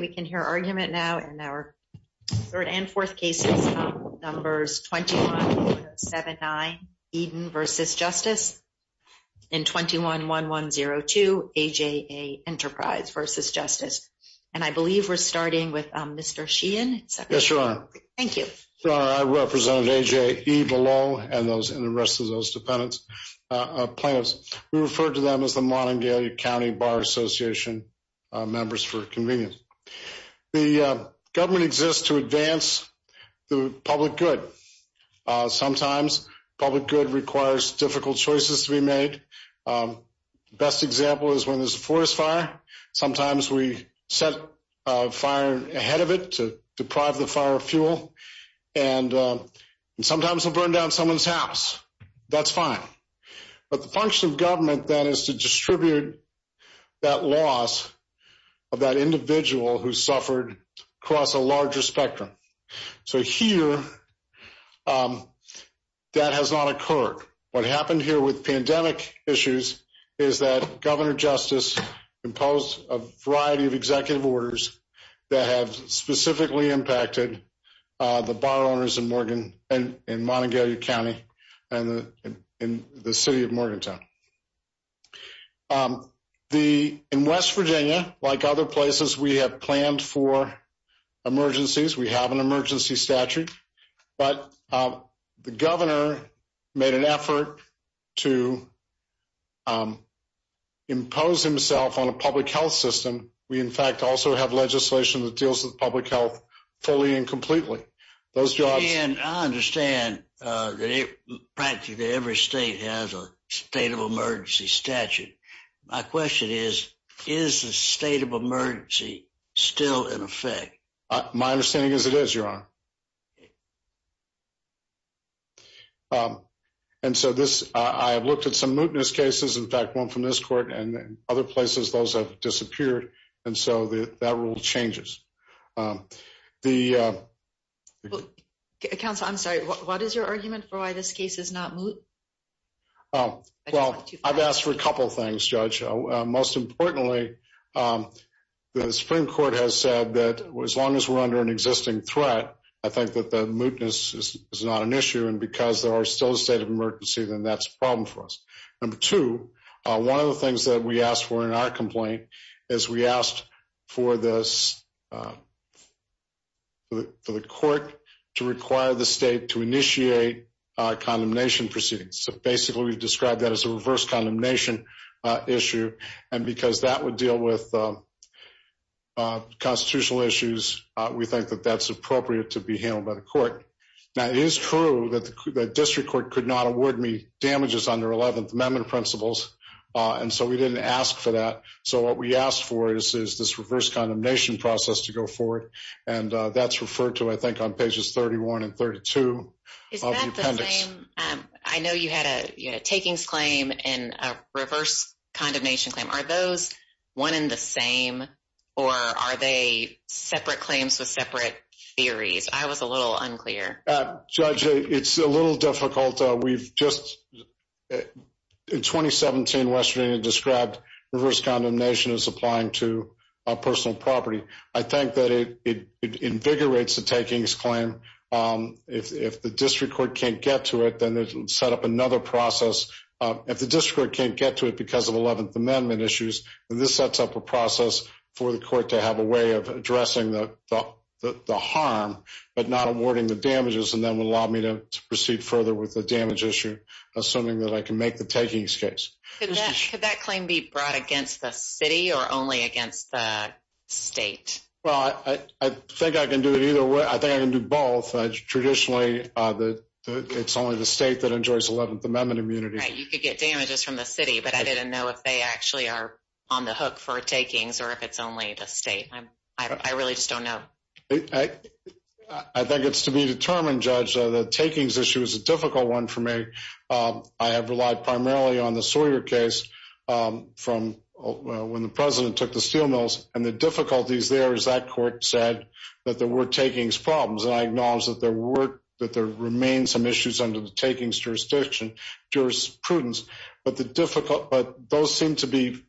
21-1079 Eden v. Justice 21-1102 AJE Enterprise v. Justice The government exists to advance the public good. Sometimes public good requires difficult choices to be made. The best example is when there's a forest fire. Sometimes we set fire ahead of it to deprive the fire of fuel. And sometimes we'll burn down someone's house. That's fine. But the function of government then is to distribute that loss of that individual who suffered across a larger spectrum. So here, that has not occurred. What happened here with pandemic issues is that Governor Justice imposed a variety of executive orders that have specifically impacted the bar owners in Montgomery County and the city of Morgantown. In West Virginia, like other places, we have planned for emergencies. We have an emergency statute. But the governor made an effort to impose himself on a public health system. We, in fact, also have legislation that deals with public health fully and completely. And I understand that practically every state has a state of emergency statute. My question is, is the state of emergency still in effect? My understanding is it is, Your Honor. And so this, I have looked at some mootness cases. In fact, one from this court and other places, those have disappeared. And so that rule changes. Counsel, I'm sorry. What is your argument for why this case is not moot? Well, I've asked for a couple of things, Judge. Most importantly, the Supreme Court has said that as long as we're under an existing threat, I think that the mootness is not an issue. And because there are still a state of emergency, then that's a problem for us. Number two, one of the things that we asked for in our complaint is we asked for this, for the court to require the state to initiate condemnation proceedings. So basically, we've described that as a reverse condemnation issue. And because that would deal with constitutional issues, we think that that's appropriate to be handled by the court. Now, it is true that the district court could not award me damages under 11th Amendment principles. And so we didn't ask for that. So what we asked for is this reverse condemnation process to go forward. And that's referred to, I think, on pages 31 and 32 of the appendix. I know you had a takings claim and a reverse condemnation claim. Are those one and the same, or are they separate claims with separate theories? I was a little unclear. Judge, it's a little difficult. We've just, in 2017, Western India described reverse condemnation as applying to personal property. I think that it invigorates the takings claim. If the district court can't get to it, then it'll set up another process. If the district court can't get to it because of 11th Amendment issues, then this sets up a process for the court to have a way of addressing the harm but not awarding the damages, and then would allow me to proceed further with the damage issue, assuming that I can make the takings case. Could that claim be brought against the city or only against the state? Well, I think I can do it either way. I think I can do both. Traditionally, it's only the state that enjoys 11th Amendment immunity. You could get damages from the city, but I didn't know if they actually are on the hook for takings or if it's only the state. I really just don't know. I think it's to be determined, Judge. The takings issue is a difficult one for me. I have relied primarily on the Sawyer case when the president took the steel mills, and the difficulties there is that court said that there were takings problems, and I acknowledge that there remain some issues under the takings jurisprudence, but those seem to be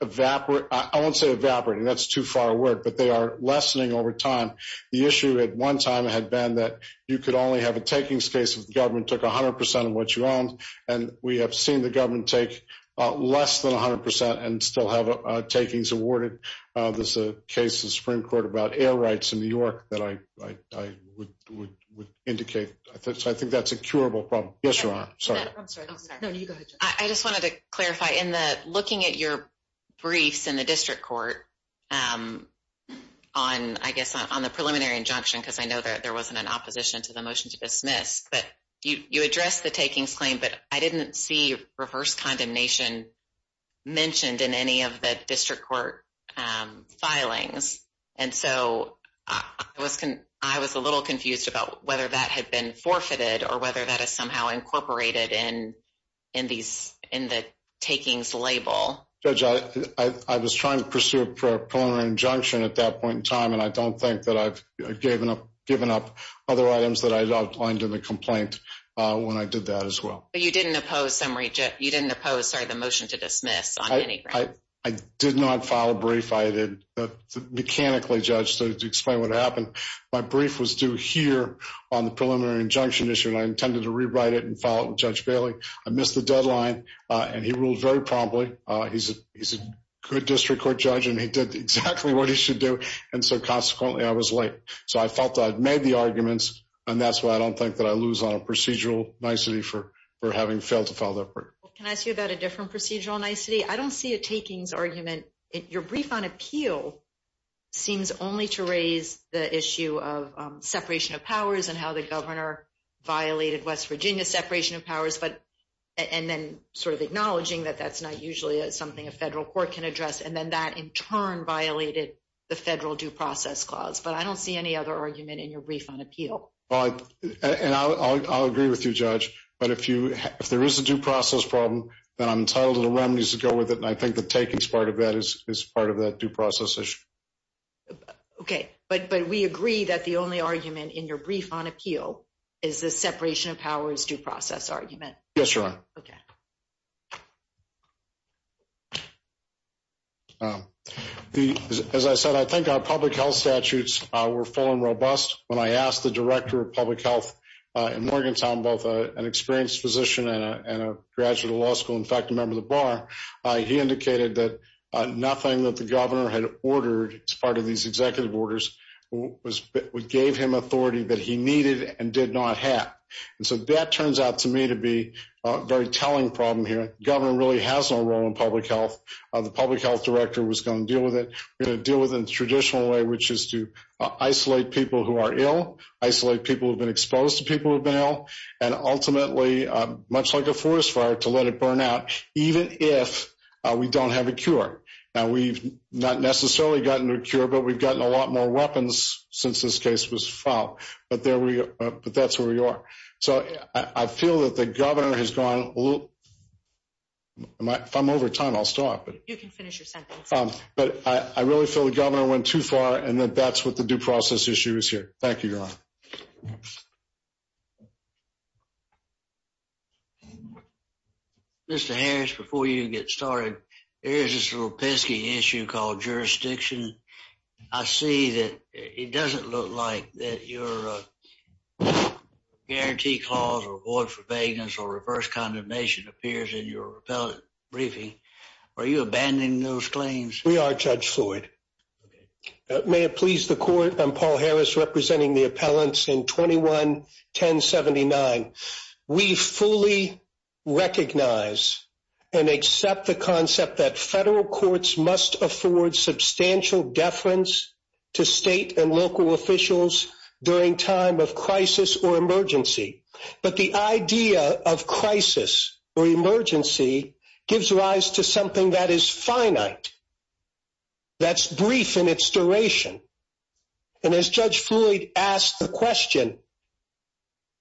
evaporating. I won't say evaporating. That's too far a word, but they are lessening over time. The issue at one time had been that you could only have a takings case if the government took 100% of what you owned, and we have seen the government take less than 100% and still have takings awarded. There's a case in the Supreme Court about air rights in New York that I would indicate. I think that's a curable problem. Yes, Your Honor. Sorry. I just wanted to clarify. In looking at your briefs in the district court on the preliminary injunction, because I know there wasn't an opposition to the motion to dismiss, but you addressed the takings claim, but I didn't see reverse condemnation mentioned in any of the district court filings, and so I was a little confused about whether that had been forfeited or whether that is somehow incorporated in the takings label. Judge, I was trying to pursue a preliminary injunction at that point in time, and I don't think that I've given up other items that I outlined in the complaint when I did that as well. But you didn't oppose the motion to dismiss on any grounds? I did not file a brief. I did mechanically, Judge, to explain what happened. My brief was due here on the preliminary injunction issue, and I intended to rewrite it and file it with Judge Bailey. I missed the deadline, and he ruled very promptly. He's a good district court judge, and he did exactly what he should do, and so consequently I was late. So I felt that I'd made the arguments, and that's why I don't think that I lose on a procedural nicety for having failed to file that brief. Can I ask you about a different procedural nicety? I don't see a takings argument. Your brief on appeal seems only to raise the issue of separation of powers and how the governor violated West Virginia's separation of powers, and then sort of acknowledging that that's not usually something a federal court can address, and then that in turn violated the federal due process clause. But I don't see any other argument in your brief on appeal. And I'll agree with you, Judge, but if there is a due process problem, then I'm entitled to the remedies that go with it, and I think the takings part of that is part of that due process issue. Okay, but we agree that the only argument in your brief on appeal is the separation of powers due process argument. Yes, Your Honor. Okay. As I said, I think our public health statutes were full and robust. When I asked the director of public health in Morgantown, both an experienced physician and a graduate of law school, in fact, a member of the bar, he indicated that nothing that the governor had ordered as part of these executive orders gave him authority that he needed and did not have. And so that turns out to me to be a very telling problem here. The governor really has no role in public health. The public health director was going to deal with it in a traditional way, which is to isolate people who are ill, isolate people who have been exposed to people who have been ill, and ultimately, much like a forest fire, to let it burn out even if we don't have a cure. Now, we've not necessarily gotten a cure, but we've gotten a lot more weapons since this case was filed. But that's where we are. So I feel that the governor has gone a little – if I'm over time, I'll stop. You can finish your sentence. But I really feel the governor went too far and that that's what the due process issue is here. Thank you, Your Honor. Mr. Harris, before you get started, there is this little pesky issue called jurisdiction. I see that it doesn't look like that your guarantee clause or void for vagueness or reverse condemnation appears in your repellent briefing. Are you abandoning those claims? We are, Judge Floyd. May it please the Court, I'm Paul Harris representing the appellants in 21-1079. We fully recognize and accept the concept that federal courts must afford substantial deference to state and local officials during time of crisis or emergency. But the idea of crisis or emergency gives rise to something that is finite. That's brief in its duration. And as Judge Floyd asked the question,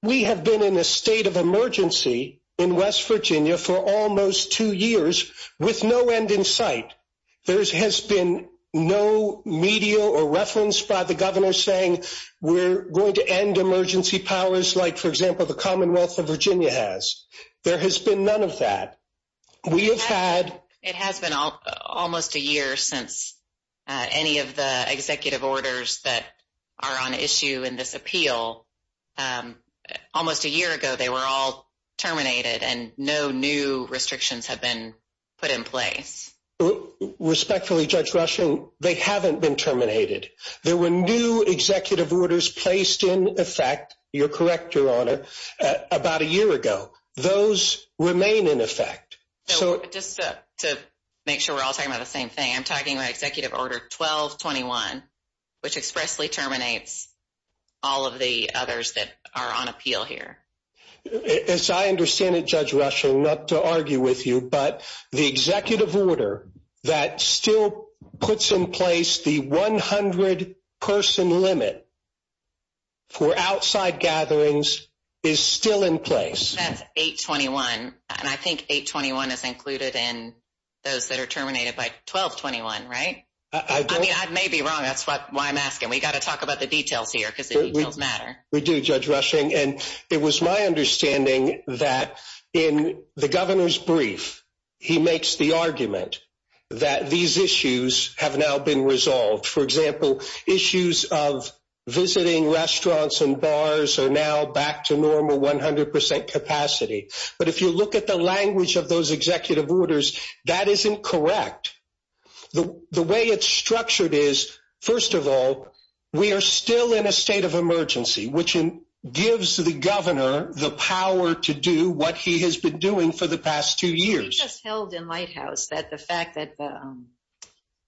we have been in a state of emergency in West Virginia for almost two years with no end in sight. There has been no media or reference by the governor saying we're going to end emergency powers like, for example, the Commonwealth of Virginia has. There has been none of that. It has been almost a year since any of the executive orders that are on issue in this appeal. Almost a year ago, they were all terminated and no new restrictions have been put in place. Respectfully, Judge Rushing, they haven't been terminated. There were new executive orders placed in effect. You're correct, Your Honor, about a year ago. Those remain in effect. Just to make sure we're all talking about the same thing, I'm talking about Executive Order 1221, which expressly terminates all of the others that are on appeal here. As I understand it, Judge Rushing, not to argue with you, but the executive order that still puts in place the 100-person limit for outside gatherings is still in place. That's 821, and I think 821 is included in those that are terminated by 1221, right? I may be wrong. That's why I'm asking. We've got to talk about the details here because the details matter. We do, Judge Rushing, and it was my understanding that in the governor's brief, he makes the argument that these issues have now been resolved. For example, issues of visiting restaurants and bars are now back to normal 100% capacity. But if you look at the language of those executive orders, that isn't correct. The way it's structured is, first of all, we are still in a state of emergency, which gives the governor the power to do what he has been doing for the past two years. We just held in Lighthouse that the fact that the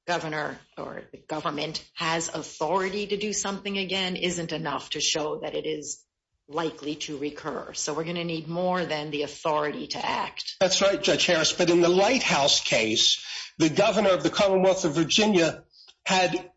government has authority to do something again isn't enough to show that it is likely to recur. So we're going to need more than the authority to act. That's right, Judge Harris, but in the Lighthouse case, the governor of the Commonwealth of Virginia had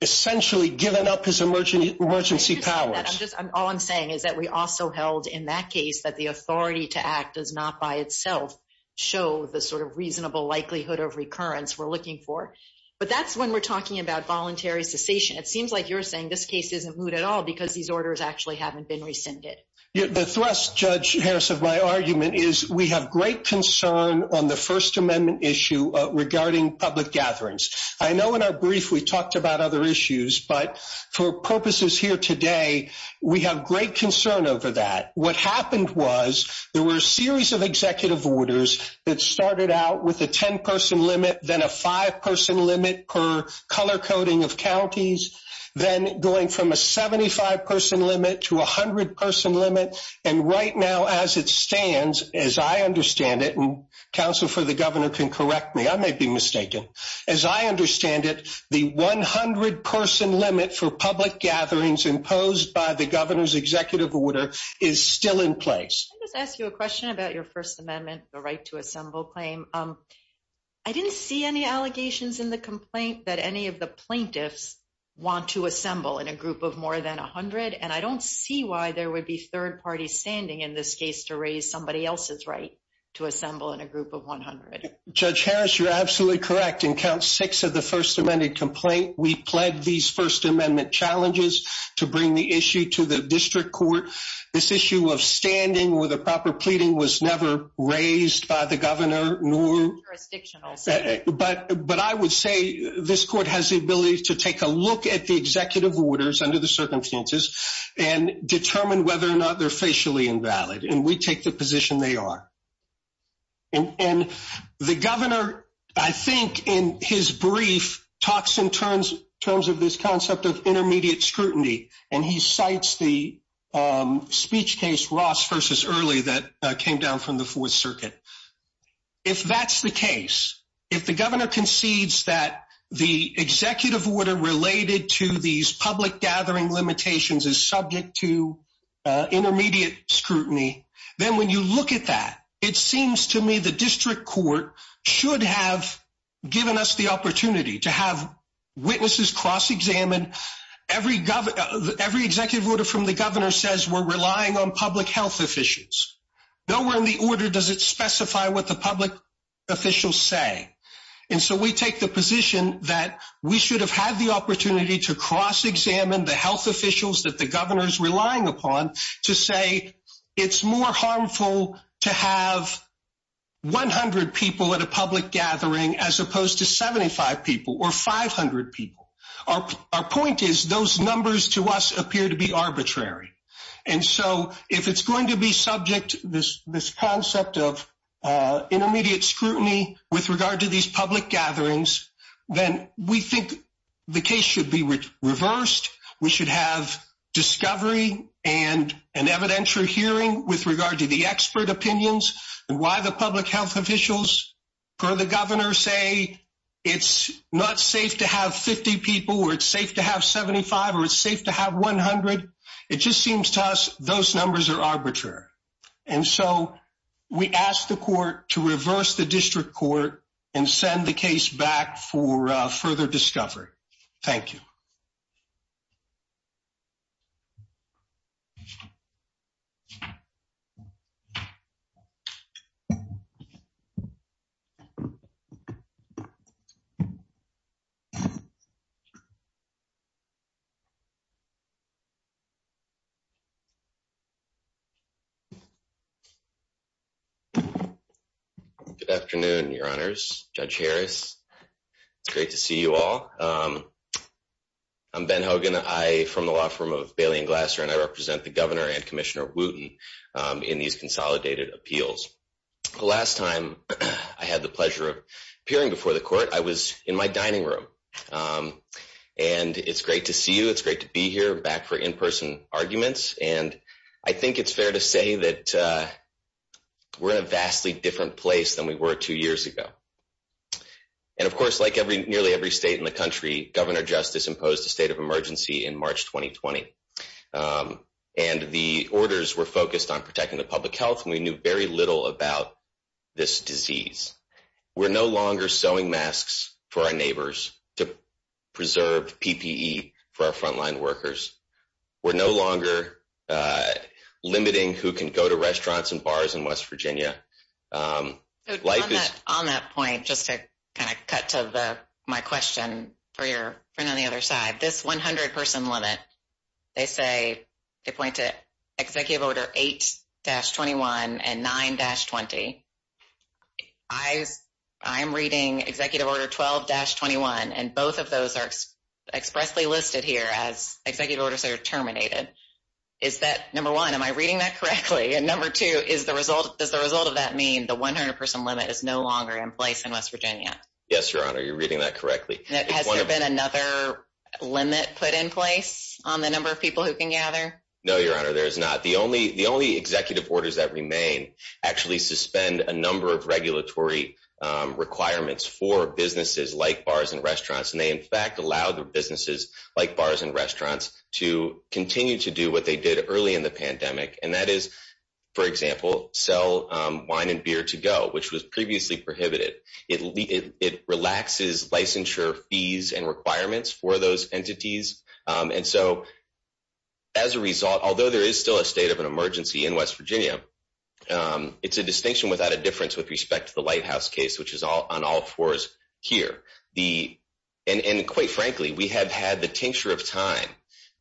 essentially given up his emergency powers. All I'm saying is that we also held in that case that the authority to act does not by itself show the sort of reasonable likelihood of recurrence we're looking for. But that's when we're talking about voluntary cessation. It seems like you're saying this case isn't moot at all because these orders actually haven't been rescinded. The thrust, Judge Harris, of my argument is we have great concern on the First Amendment issue regarding public gatherings. I know in our brief we talked about other issues, but for purposes here today, we have great concern over that. What happened was there were a series of executive orders that started out with a 10-person limit, then a five-person limit per color coding of counties, then going from a 75-person limit to a 100-person limit. And right now, as it stands, as I understand it, and counsel for the governor can correct me, I may be mistaken, as I understand it, the 100-person limit for public gatherings imposed by the governor's executive order is still in place. Let me just ask you a question about your First Amendment, the right to assemble claim. I didn't see any allegations in the complaint that any of the plaintiffs want to assemble in a group of more than 100, and I don't see why there would be third parties standing in this case to raise somebody else's right to assemble in a group of 100. Judge Harris, you're absolutely correct. In count six of the First Amendment complaint, we pled these First Amendment challenges to bring the issue to the district court. This issue of standing with a proper pleading was never raised by the governor, nor— It's not jurisdictional. But I would say this court has the ability to take a look at the executive orders under the circumstances and determine whether or not they're facially invalid, and we take the position they are. And the governor, I think in his brief, talks in terms of this concept of intermediate scrutiny, and he cites the speech case Ross v. Early that came down from the Fourth Circuit. If that's the case, if the governor concedes that the executive order related to these public gathering limitations is subject to intermediate scrutiny, then when you look at that, it seems to me the district court should have given us the opportunity to have witnesses cross-examined. Every executive order from the governor says we're relying on public health officials. Nowhere in the order does it specify what the public officials say. And so we take the position that we should have had the opportunity to cross-examine the health officials that the governor is relying upon to say it's more harmful to have 100 people at a public gathering as opposed to 75 people or 500 people. Our point is those numbers to us appear to be arbitrary. And so if it's going to be subject to this concept of intermediate scrutiny with regard to these public gatherings, then we think the case should be reversed. We should have discovery and an evidentiary hearing with regard to the expert opinions and why the public health officials per the governor say it's not safe to have 50 people or it's safe to have 75 or it's safe to have 100. It just seems to us those numbers are arbitrary. And so we ask the court to reverse the district court and send the case back for further discovery. Thank you. Good afternoon, Your Honors. Judge Harris, it's great to see you all. I'm Ben Hogan. I'm from the law firm of Bailey and Glasser, and I represent the governor and Commissioner Wooten in these consolidated appeals. The last time I had the pleasure of appearing before the court, I was in my dining room. And it's great to see you. It's great to be here back for in-person arguments. And I think it's fair to say that we're in a vastly different place than we were two years ago. And, of course, like nearly every state in the country, Governor Justice imposed a state of emergency in March 2020. And the orders were focused on protecting the public health, and we knew very little about this disease. We're no longer sewing masks for our neighbors to preserve PPE for our frontline workers. We're no longer limiting who can go to restaurants and bars in West Virginia. On that point, just to kind of cut to my question for your friend on the other side, this 100-person limit, they say they point to Executive Order 8-21 and 9-20. I'm reading Executive Order 12-21, and both of those are expressly listed here as executive orders that are terminated. Is that, number one, am I reading that correctly? And number two, does the result of that mean the 100-person limit is no longer in place in West Virginia? Yes, Your Honor, you're reading that correctly. Has there been another limit put in place on the number of people who can gather? No, Your Honor, there is not. The only executive orders that remain actually suspend a number of regulatory requirements for businesses like bars and restaurants, and they, in fact, allow businesses like bars and restaurants to continue to do what they did early in the pandemic, and that is, for example, sell wine and beer to-go, which was previously prohibited. It relaxes licensure fees and requirements for those entities. And so, as a result, although there is still a state of an emergency in West Virginia, it's a distinction without a difference with respect to the Lighthouse case, which is on all fours here. And quite frankly, we have had the tincture of time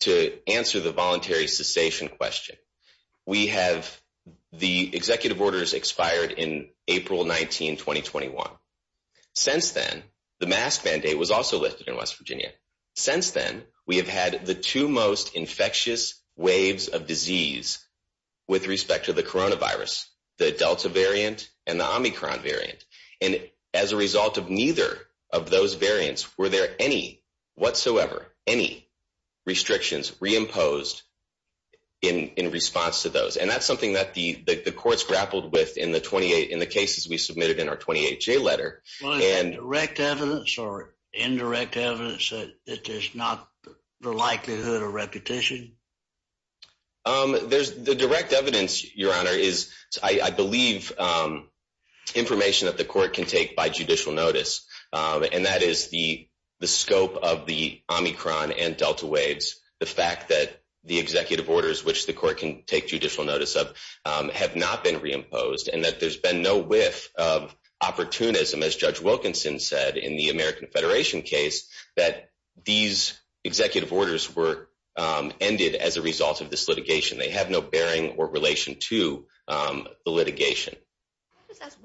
to answer the voluntary cessation question. We have the executive orders expired in April 19, 2021. Since then, the mask mandate was also lifted in West Virginia. Since then, we have had the two most infectious waves of disease with respect to the coronavirus, the Delta variant and the Omicron variant. And as a result of neither of those variants, were there any whatsoever, any restrictions reimposed in response to those? And that's something that the courts grappled with in the cases we submitted in our 28-J letter. Direct evidence or indirect evidence that there's not the likelihood of repetition? The direct evidence, Your Honor, is, I believe, information that the court can take by judicial notice. And that is the scope of the Omicron and Delta waves. The fact that the executive orders, which the court can take judicial notice of, have not been reimposed and that there's been no whiff of opportunism, as Judge Wilkinson said in the American Federation case, that these executive orders were ended as a result of this litigation. They have no bearing or relation to the litigation.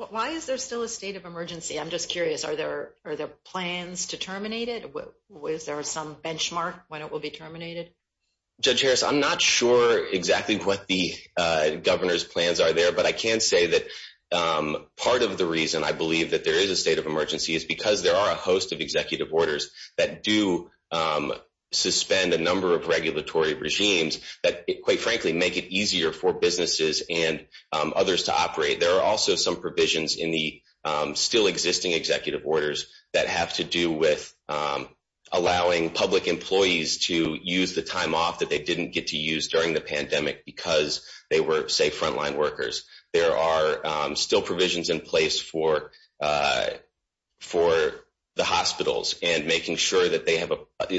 Why is there still a state of emergency? I'm just curious. Are there plans to terminate it? Is there some benchmark when it will be terminated? Judge Harris, I'm not sure exactly what the governor's plans are there. But I can say that part of the reason I believe that there is a state of emergency is because there are a host of executive orders that do suspend a number of regulatory regimes that, quite frankly, make it easier for businesses and others to operate. There are also some provisions in the still-existing executive orders that have to do with allowing public employees to use the time off that they didn't get to use during the pandemic because they were, say, front-line workers. There are still provisions in place for the hospitals and making sure that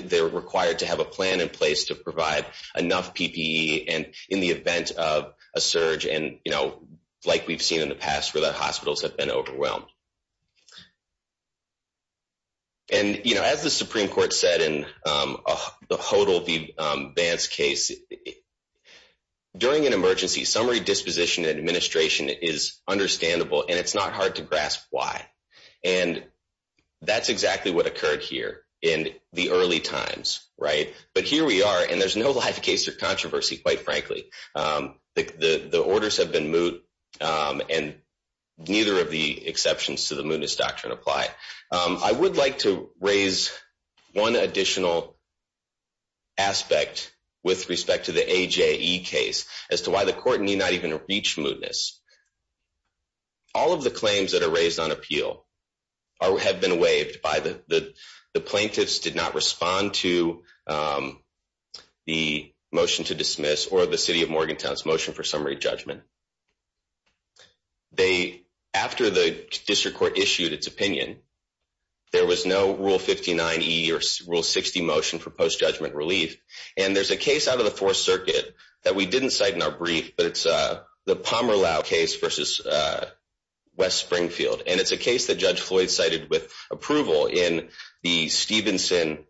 they're required to have a plan in place to provide enough PPE in the event of a surge, like we've seen in the past, where the hospitals have been overwhelmed. And, you know, as the Supreme Court said in the Hodl v. Vance case, during an emergency, summary disposition and administration is understandable, and it's not hard to grasp why. And that's exactly what occurred here in the early times, right? But here we are, and there's no life case or controversy, quite frankly. The orders have been moot, and neither of the exceptions to the mootness doctrine apply. I would like to raise one additional aspect with respect to the AJE case as to why the court need not even reach mootness. All of the claims that are raised on appeal have been waived by the plaintiffs, but the plaintiffs did not respond to the motion to dismiss or the City of Morgantown's motion for summary judgment. After the district court issued its opinion, there was no Rule 59e or Rule 60 motion for post-judgment relief. And there's a case out of the Fourth Circuit that we didn't cite in our brief, but it's the Palmer Lau case versus West Springfield. And it's a case that Judge Floyd cited with approval in the Stevenson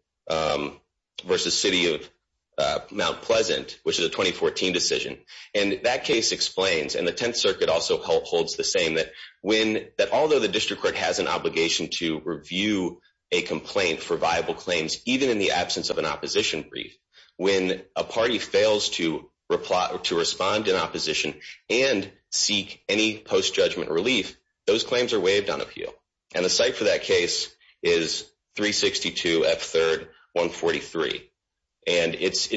versus City of Mount Pleasant, which is a 2014 decision. And that case explains, and the Tenth Circuit also holds the same, that although the district court has an obligation to review a complaint for viable claims, even in the absence of an opposition brief, when a party fails to respond in opposition and seek any post-judgment relief, those claims are waived on appeal. And the cite for that case is 362 F. 3rd 143. And it's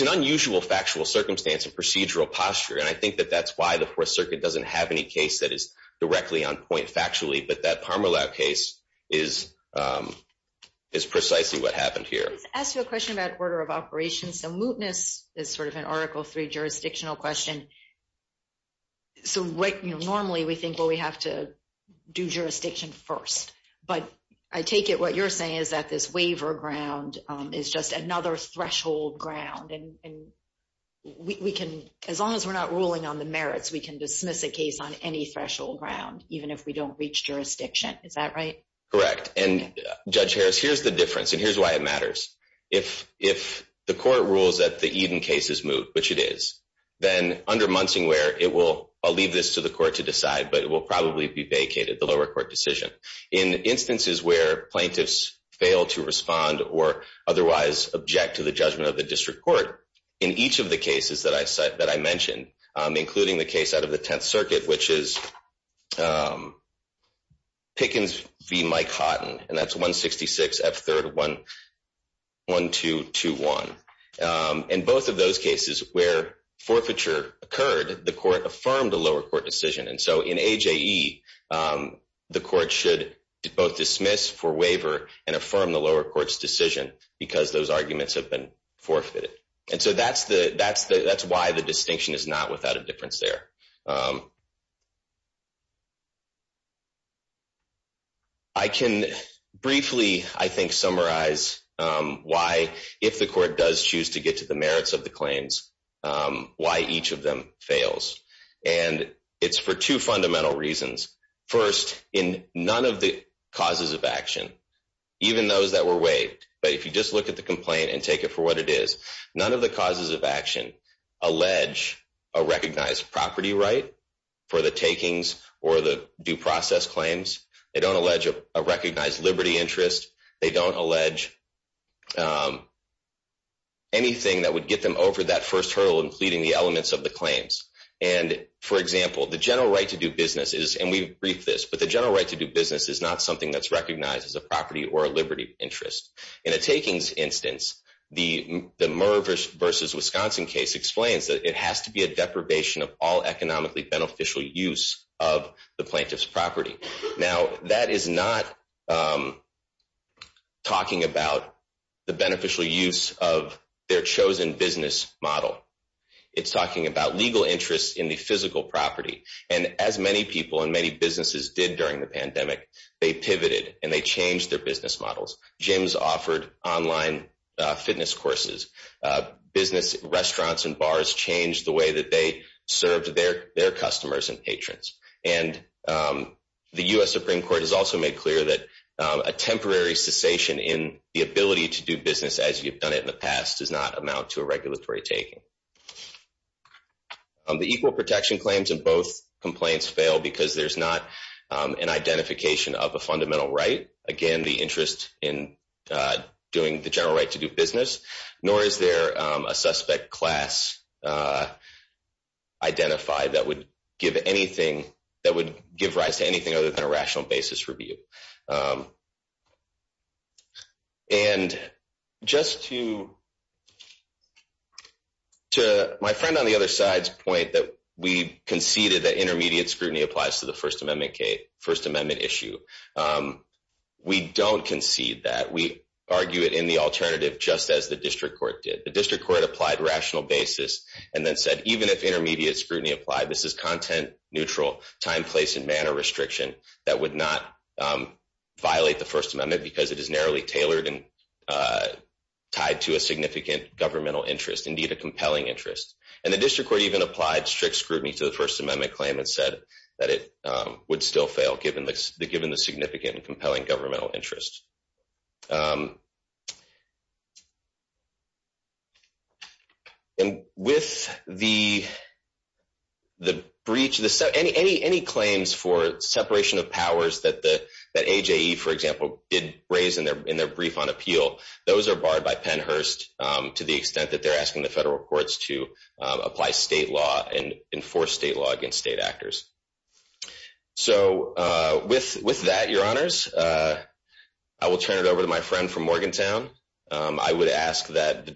an unusual factual circumstance and procedural posture, and I think that that's why the Fourth Circuit doesn't have any case that is directly on point factually, but that Palmer Lau case is precisely what happened here. Let me just ask you a question about order of operations. So mootness is sort of an Article III jurisdictional question. So normally we think, well, we have to do jurisdiction first, but I take it what you're saying is that this waiver ground is just another threshold ground, and as long as we're not ruling on the merits, we can dismiss a case on any threshold ground, even if we don't reach jurisdiction. Is that right? Correct. And, Judge Harris, here's the difference, and here's why it matters. If the court rules that the Eden case is moot, which it is, then under Munsingware, I'll leave this to the court to decide, but it will probably be vacated, the lower court decision. In instances where plaintiffs fail to respond or otherwise object to the judgment of the district court, in each of the cases that I mentioned, including the case out of the Tenth Circuit, which is Pickens v. Mike Houghton, and that's 166 F. 3rd. 1221. In both of those cases where forfeiture occurred, the court affirmed the lower court decision. And so in AJE, the court should both dismiss for waiver and affirm the lower court's decision because those arguments have been forfeited. And so that's why the distinction is not without a difference there. I can briefly, I think, summarize why, if the court does choose to get to the merits of the claims, why each of them fails. And it's for two fundamental reasons. First, in none of the causes of action, even those that were waived, but if you just look at the complaint and take it for what it is, none of the causes of action allege a recognized property right for the takings or the due process claims. They don't allege a recognized liberty interest. They don't allege anything that would get them over that first hurdle, including the elements of the claims. And, for example, the general right to do business is, and we've briefed this, but the general right to do business is not something that's recognized as a property or a liberty interest. In a takings instance, the Murr v. Wisconsin case explains that it has to be a deprivation of all economically beneficial use of the plaintiff's property. Now, that is not talking about the beneficial use of their chosen business model. It's talking about legal interest in the physical property. And as many people and many businesses did during the pandemic, they pivoted and they changed their business models. Gyms offered online fitness courses. Business restaurants and bars changed the way that they served their customers and patrons. And the U.S. Supreme Court has also made clear that a temporary cessation in the ability to do business as you've done it in the past does not amount to a regulatory taking. The equal protection claims in both complaints fail because there's not an identification of a fundamental right, again, the interest in doing the general right to do business, nor is there a suspect class identified that would give rise to anything other than a rational basis review. And just to my friend on the other side's point that we conceded that intermediate scrutiny applies to the First Amendment case, First Amendment issue, we don't concede that. We argue it in the alternative just as the district court did. The district court applied rational basis and then said even if intermediate scrutiny applied, this is content neutral, time, place, and manner restriction that would not violate the First Amendment because it is narrowly tailored and tied to a significant governmental interest, indeed a compelling interest. And the district court even applied strict scrutiny to the First Amendment claim and said that it would still fail given the significant and compelling governmental interest. And with the breach, any claims for separation of powers that AJE, for example, did raise in their brief on appeal, those are barred by Pennhurst to the extent that they're asking the federal courts to apply state law and enforce state law against state actors. So with that, your honors, I will turn it over to my friend from Morgantown. I would ask that the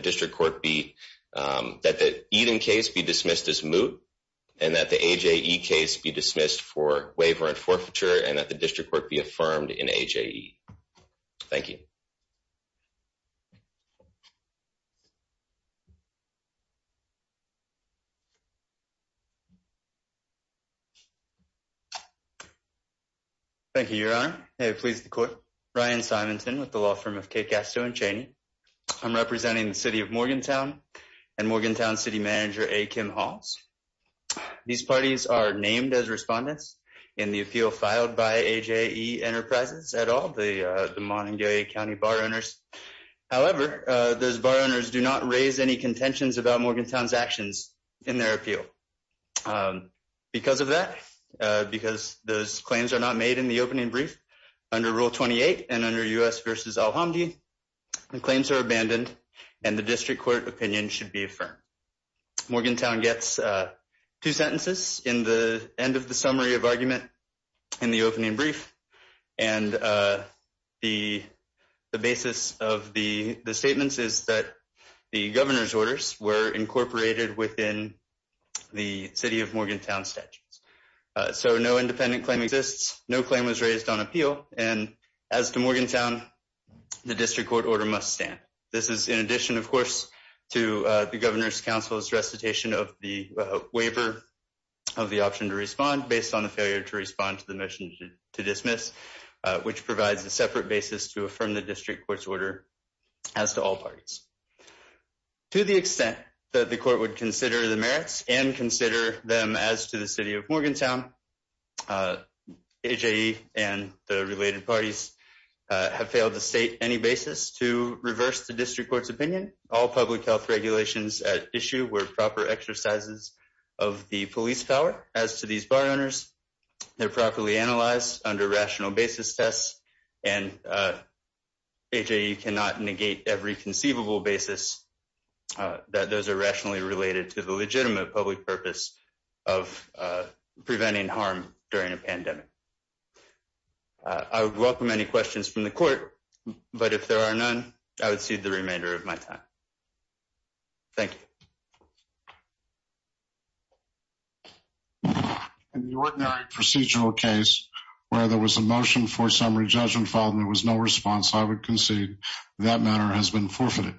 district court be, that the Eden case be dismissed as moot and that the AJE case be dismissed for waiver and forfeiture and that the district court be affirmed in AJE. Thank you. Thank you, your honor. May it please the court. Ryan Simonton with the law firm of Kate Gasto and Chaney. I'm representing the city of Morgantown and Morgantown city manager A. Kim Halls. These parties are named as respondents in the appeal filed by AJE Enterprises et al., the Montague County bar owners. However, those bar owners do not raise any contentions about Morgantown's actions in their appeal. Because of that, because those claims are not made in the opening brief under Rule 28 and under U.S. v. Al-Hamdi, the claims are abandoned and the district court opinion should be affirmed. Morgantown gets two sentences in the end of the summary of argument in the opening brief. And the basis of the statements is that the governor's orders were incorporated within the city of Morgantown statutes. So no independent claim exists. No claim was raised on appeal. And as to Morgantown, the district court order must stand. This is in addition, of course, to the governor's council's recitation of the waiver of the option to respond based on the failure to respond to the motion to dismiss, which provides a separate basis to affirm the district court's order as to all parties. To the extent that the court would consider the merits and consider them as to the city of Morgantown, AJE and the related parties have failed to state any basis to reverse the district court's opinion. Again, all public health regulations at issue were proper exercises of the police power. As to these bar owners, they're properly analyzed under rational basis tests, and AJE cannot negate every conceivable basis that those are rationally related to the legitimate public purpose of preventing harm during a pandemic. I would welcome any questions from the court, but if there are none, I would cede the remainder of my time. Thank you. In the ordinary procedural case where there was a motion for summary judgment filed and there was no response, I would concede that matter has been forfeited.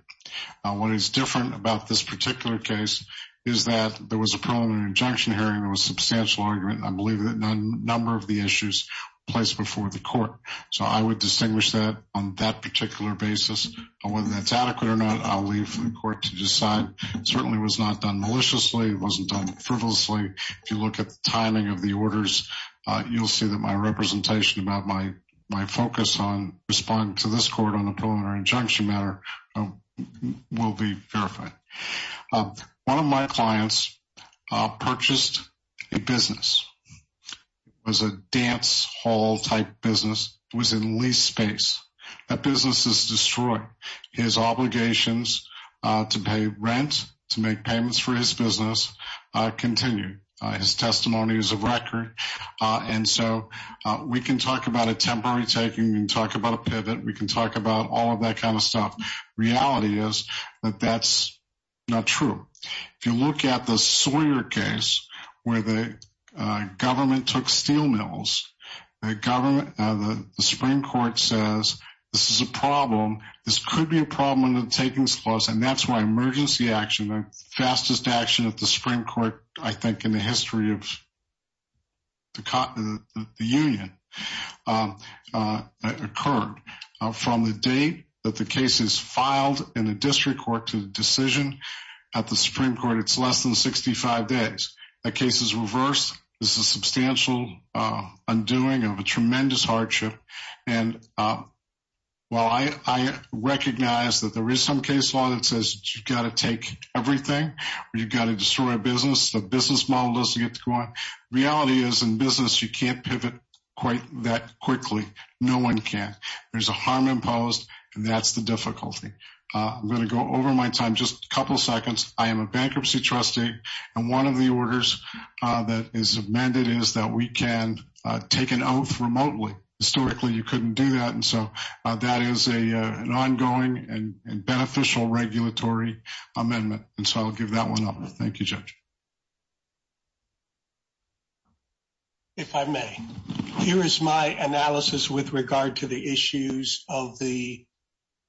What is different about this particular case is that there was a preliminary injunction hearing, there was substantial argument, and I believe that a number of the issues were placed before the court. So I would distinguish that on that particular basis. Whether that's adequate or not, I'll leave for the court to decide. It certainly was not done maliciously, it wasn't done frivolously. If you look at the timing of the orders, you'll see that my representation about my focus on responding to this court on a preliminary injunction matter will be verified. One of my clients purchased a business. It was a dance hall type business. It was in leased space. That business is destroyed. His obligations to pay rent, to make payments for his business, continue. His testimony is a record. And so we can talk about a temporary taking, we can talk about a pivot, we can talk about all of that kind of stuff. Reality is that that's not true. If you look at the Sawyer case, where the government took steel mills, the government, the Supreme Court says, this is a problem. This could be a problem in the takings clause, and that's why emergency action, the fastest action at the Supreme Court, I think, in the history of the union, occurred. From the date that the case is filed in the district court to the decision at the Supreme Court, it's less than 65 days. The case is reversed. This is a substantial undoing of a tremendous hardship. And while I recognize that there is some case law that says you've got to take everything or you've got to destroy a business, the business model doesn't get to go on, reality is, in business, you can't pivot quite that quickly. No one can. There's a harm imposed, and that's the difficulty. I'm going to go over my time, just a couple seconds. I am a bankruptcy trustee, and one of the orders that is amended is that we can take an oath remotely. Historically, you couldn't do that, and so that is an ongoing and beneficial regulatory amendment, and so I'll give that one up. Thank you, Judge. If I may, here is my analysis with regard to the issues of the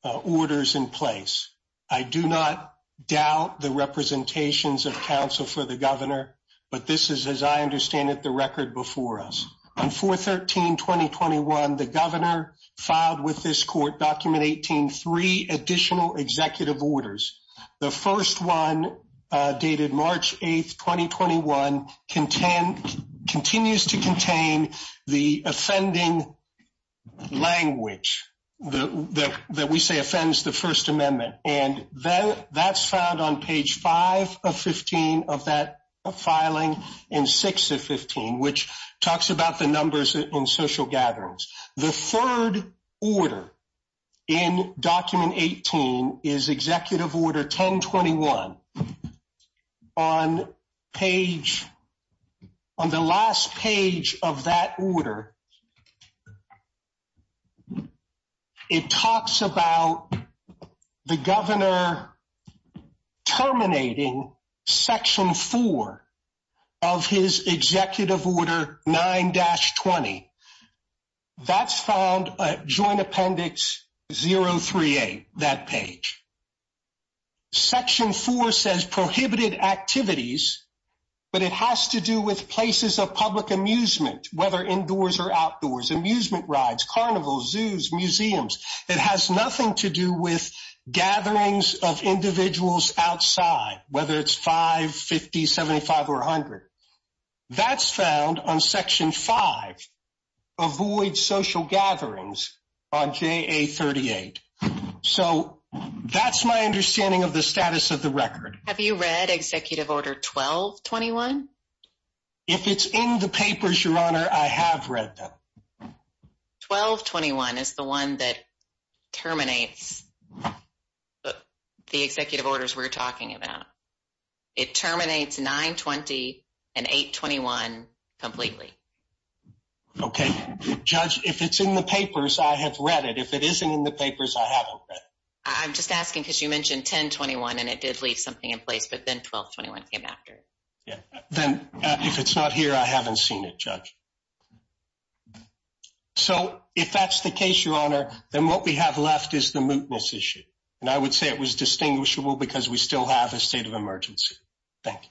orders in place. I do not doubt the representations of counsel for the governor, but this is, as I understand it, the record before us. On 4-13-2021, the governor filed with this court, Document 18, three additional executive orders. The first one, dated March 8, 2021, continues to contain the offending language that we say offends the First Amendment, and that's found on page 5 of 15 of that filing and 6 of 15, which talks about the numbers in social gatherings. The third order in Document 18 is Executive Order 1021. On the last page of that order, it talks about the governor terminating Section 4 of his Executive Order 9-20. That's found at Joint Appendix 038, that page. Section 4 says prohibited activities, but it has to do with places of public amusement, whether indoors or outdoors, amusement rides, carnivals, zoos, museums. It has nothing to do with gatherings of individuals outside, whether it's 5, 50, 75, or 100. That's found on Section 5, avoid social gatherings on JA-38. So, that's my understanding of the status of the record. Have you read Executive Order 1221? If it's in the papers, Your Honor, I have read them. 1221 is the one that terminates the executive orders we're talking about. It terminates 9-20 and 8-21 completely. Okay. Judge, if it's in the papers, I have read it. If it isn't in the papers, I haven't read it. I'm just asking because you mentioned 10-21 and it did leave something in place, but then 12-21 came after it. Then, if it's not here, I haven't seen it, Judge. So, if that's the case, Your Honor, then what we have left is the mootness issue. And I would say it was distinguishable because we still have a state of emergency. Thank you.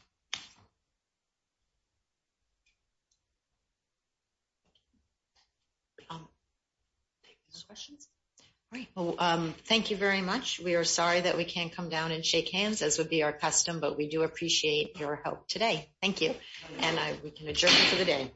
Thank you very much. We are sorry that we can't come down and shake hands, as would be our custom, but we do appreciate your help today. Thank you. And we can adjourn for the day.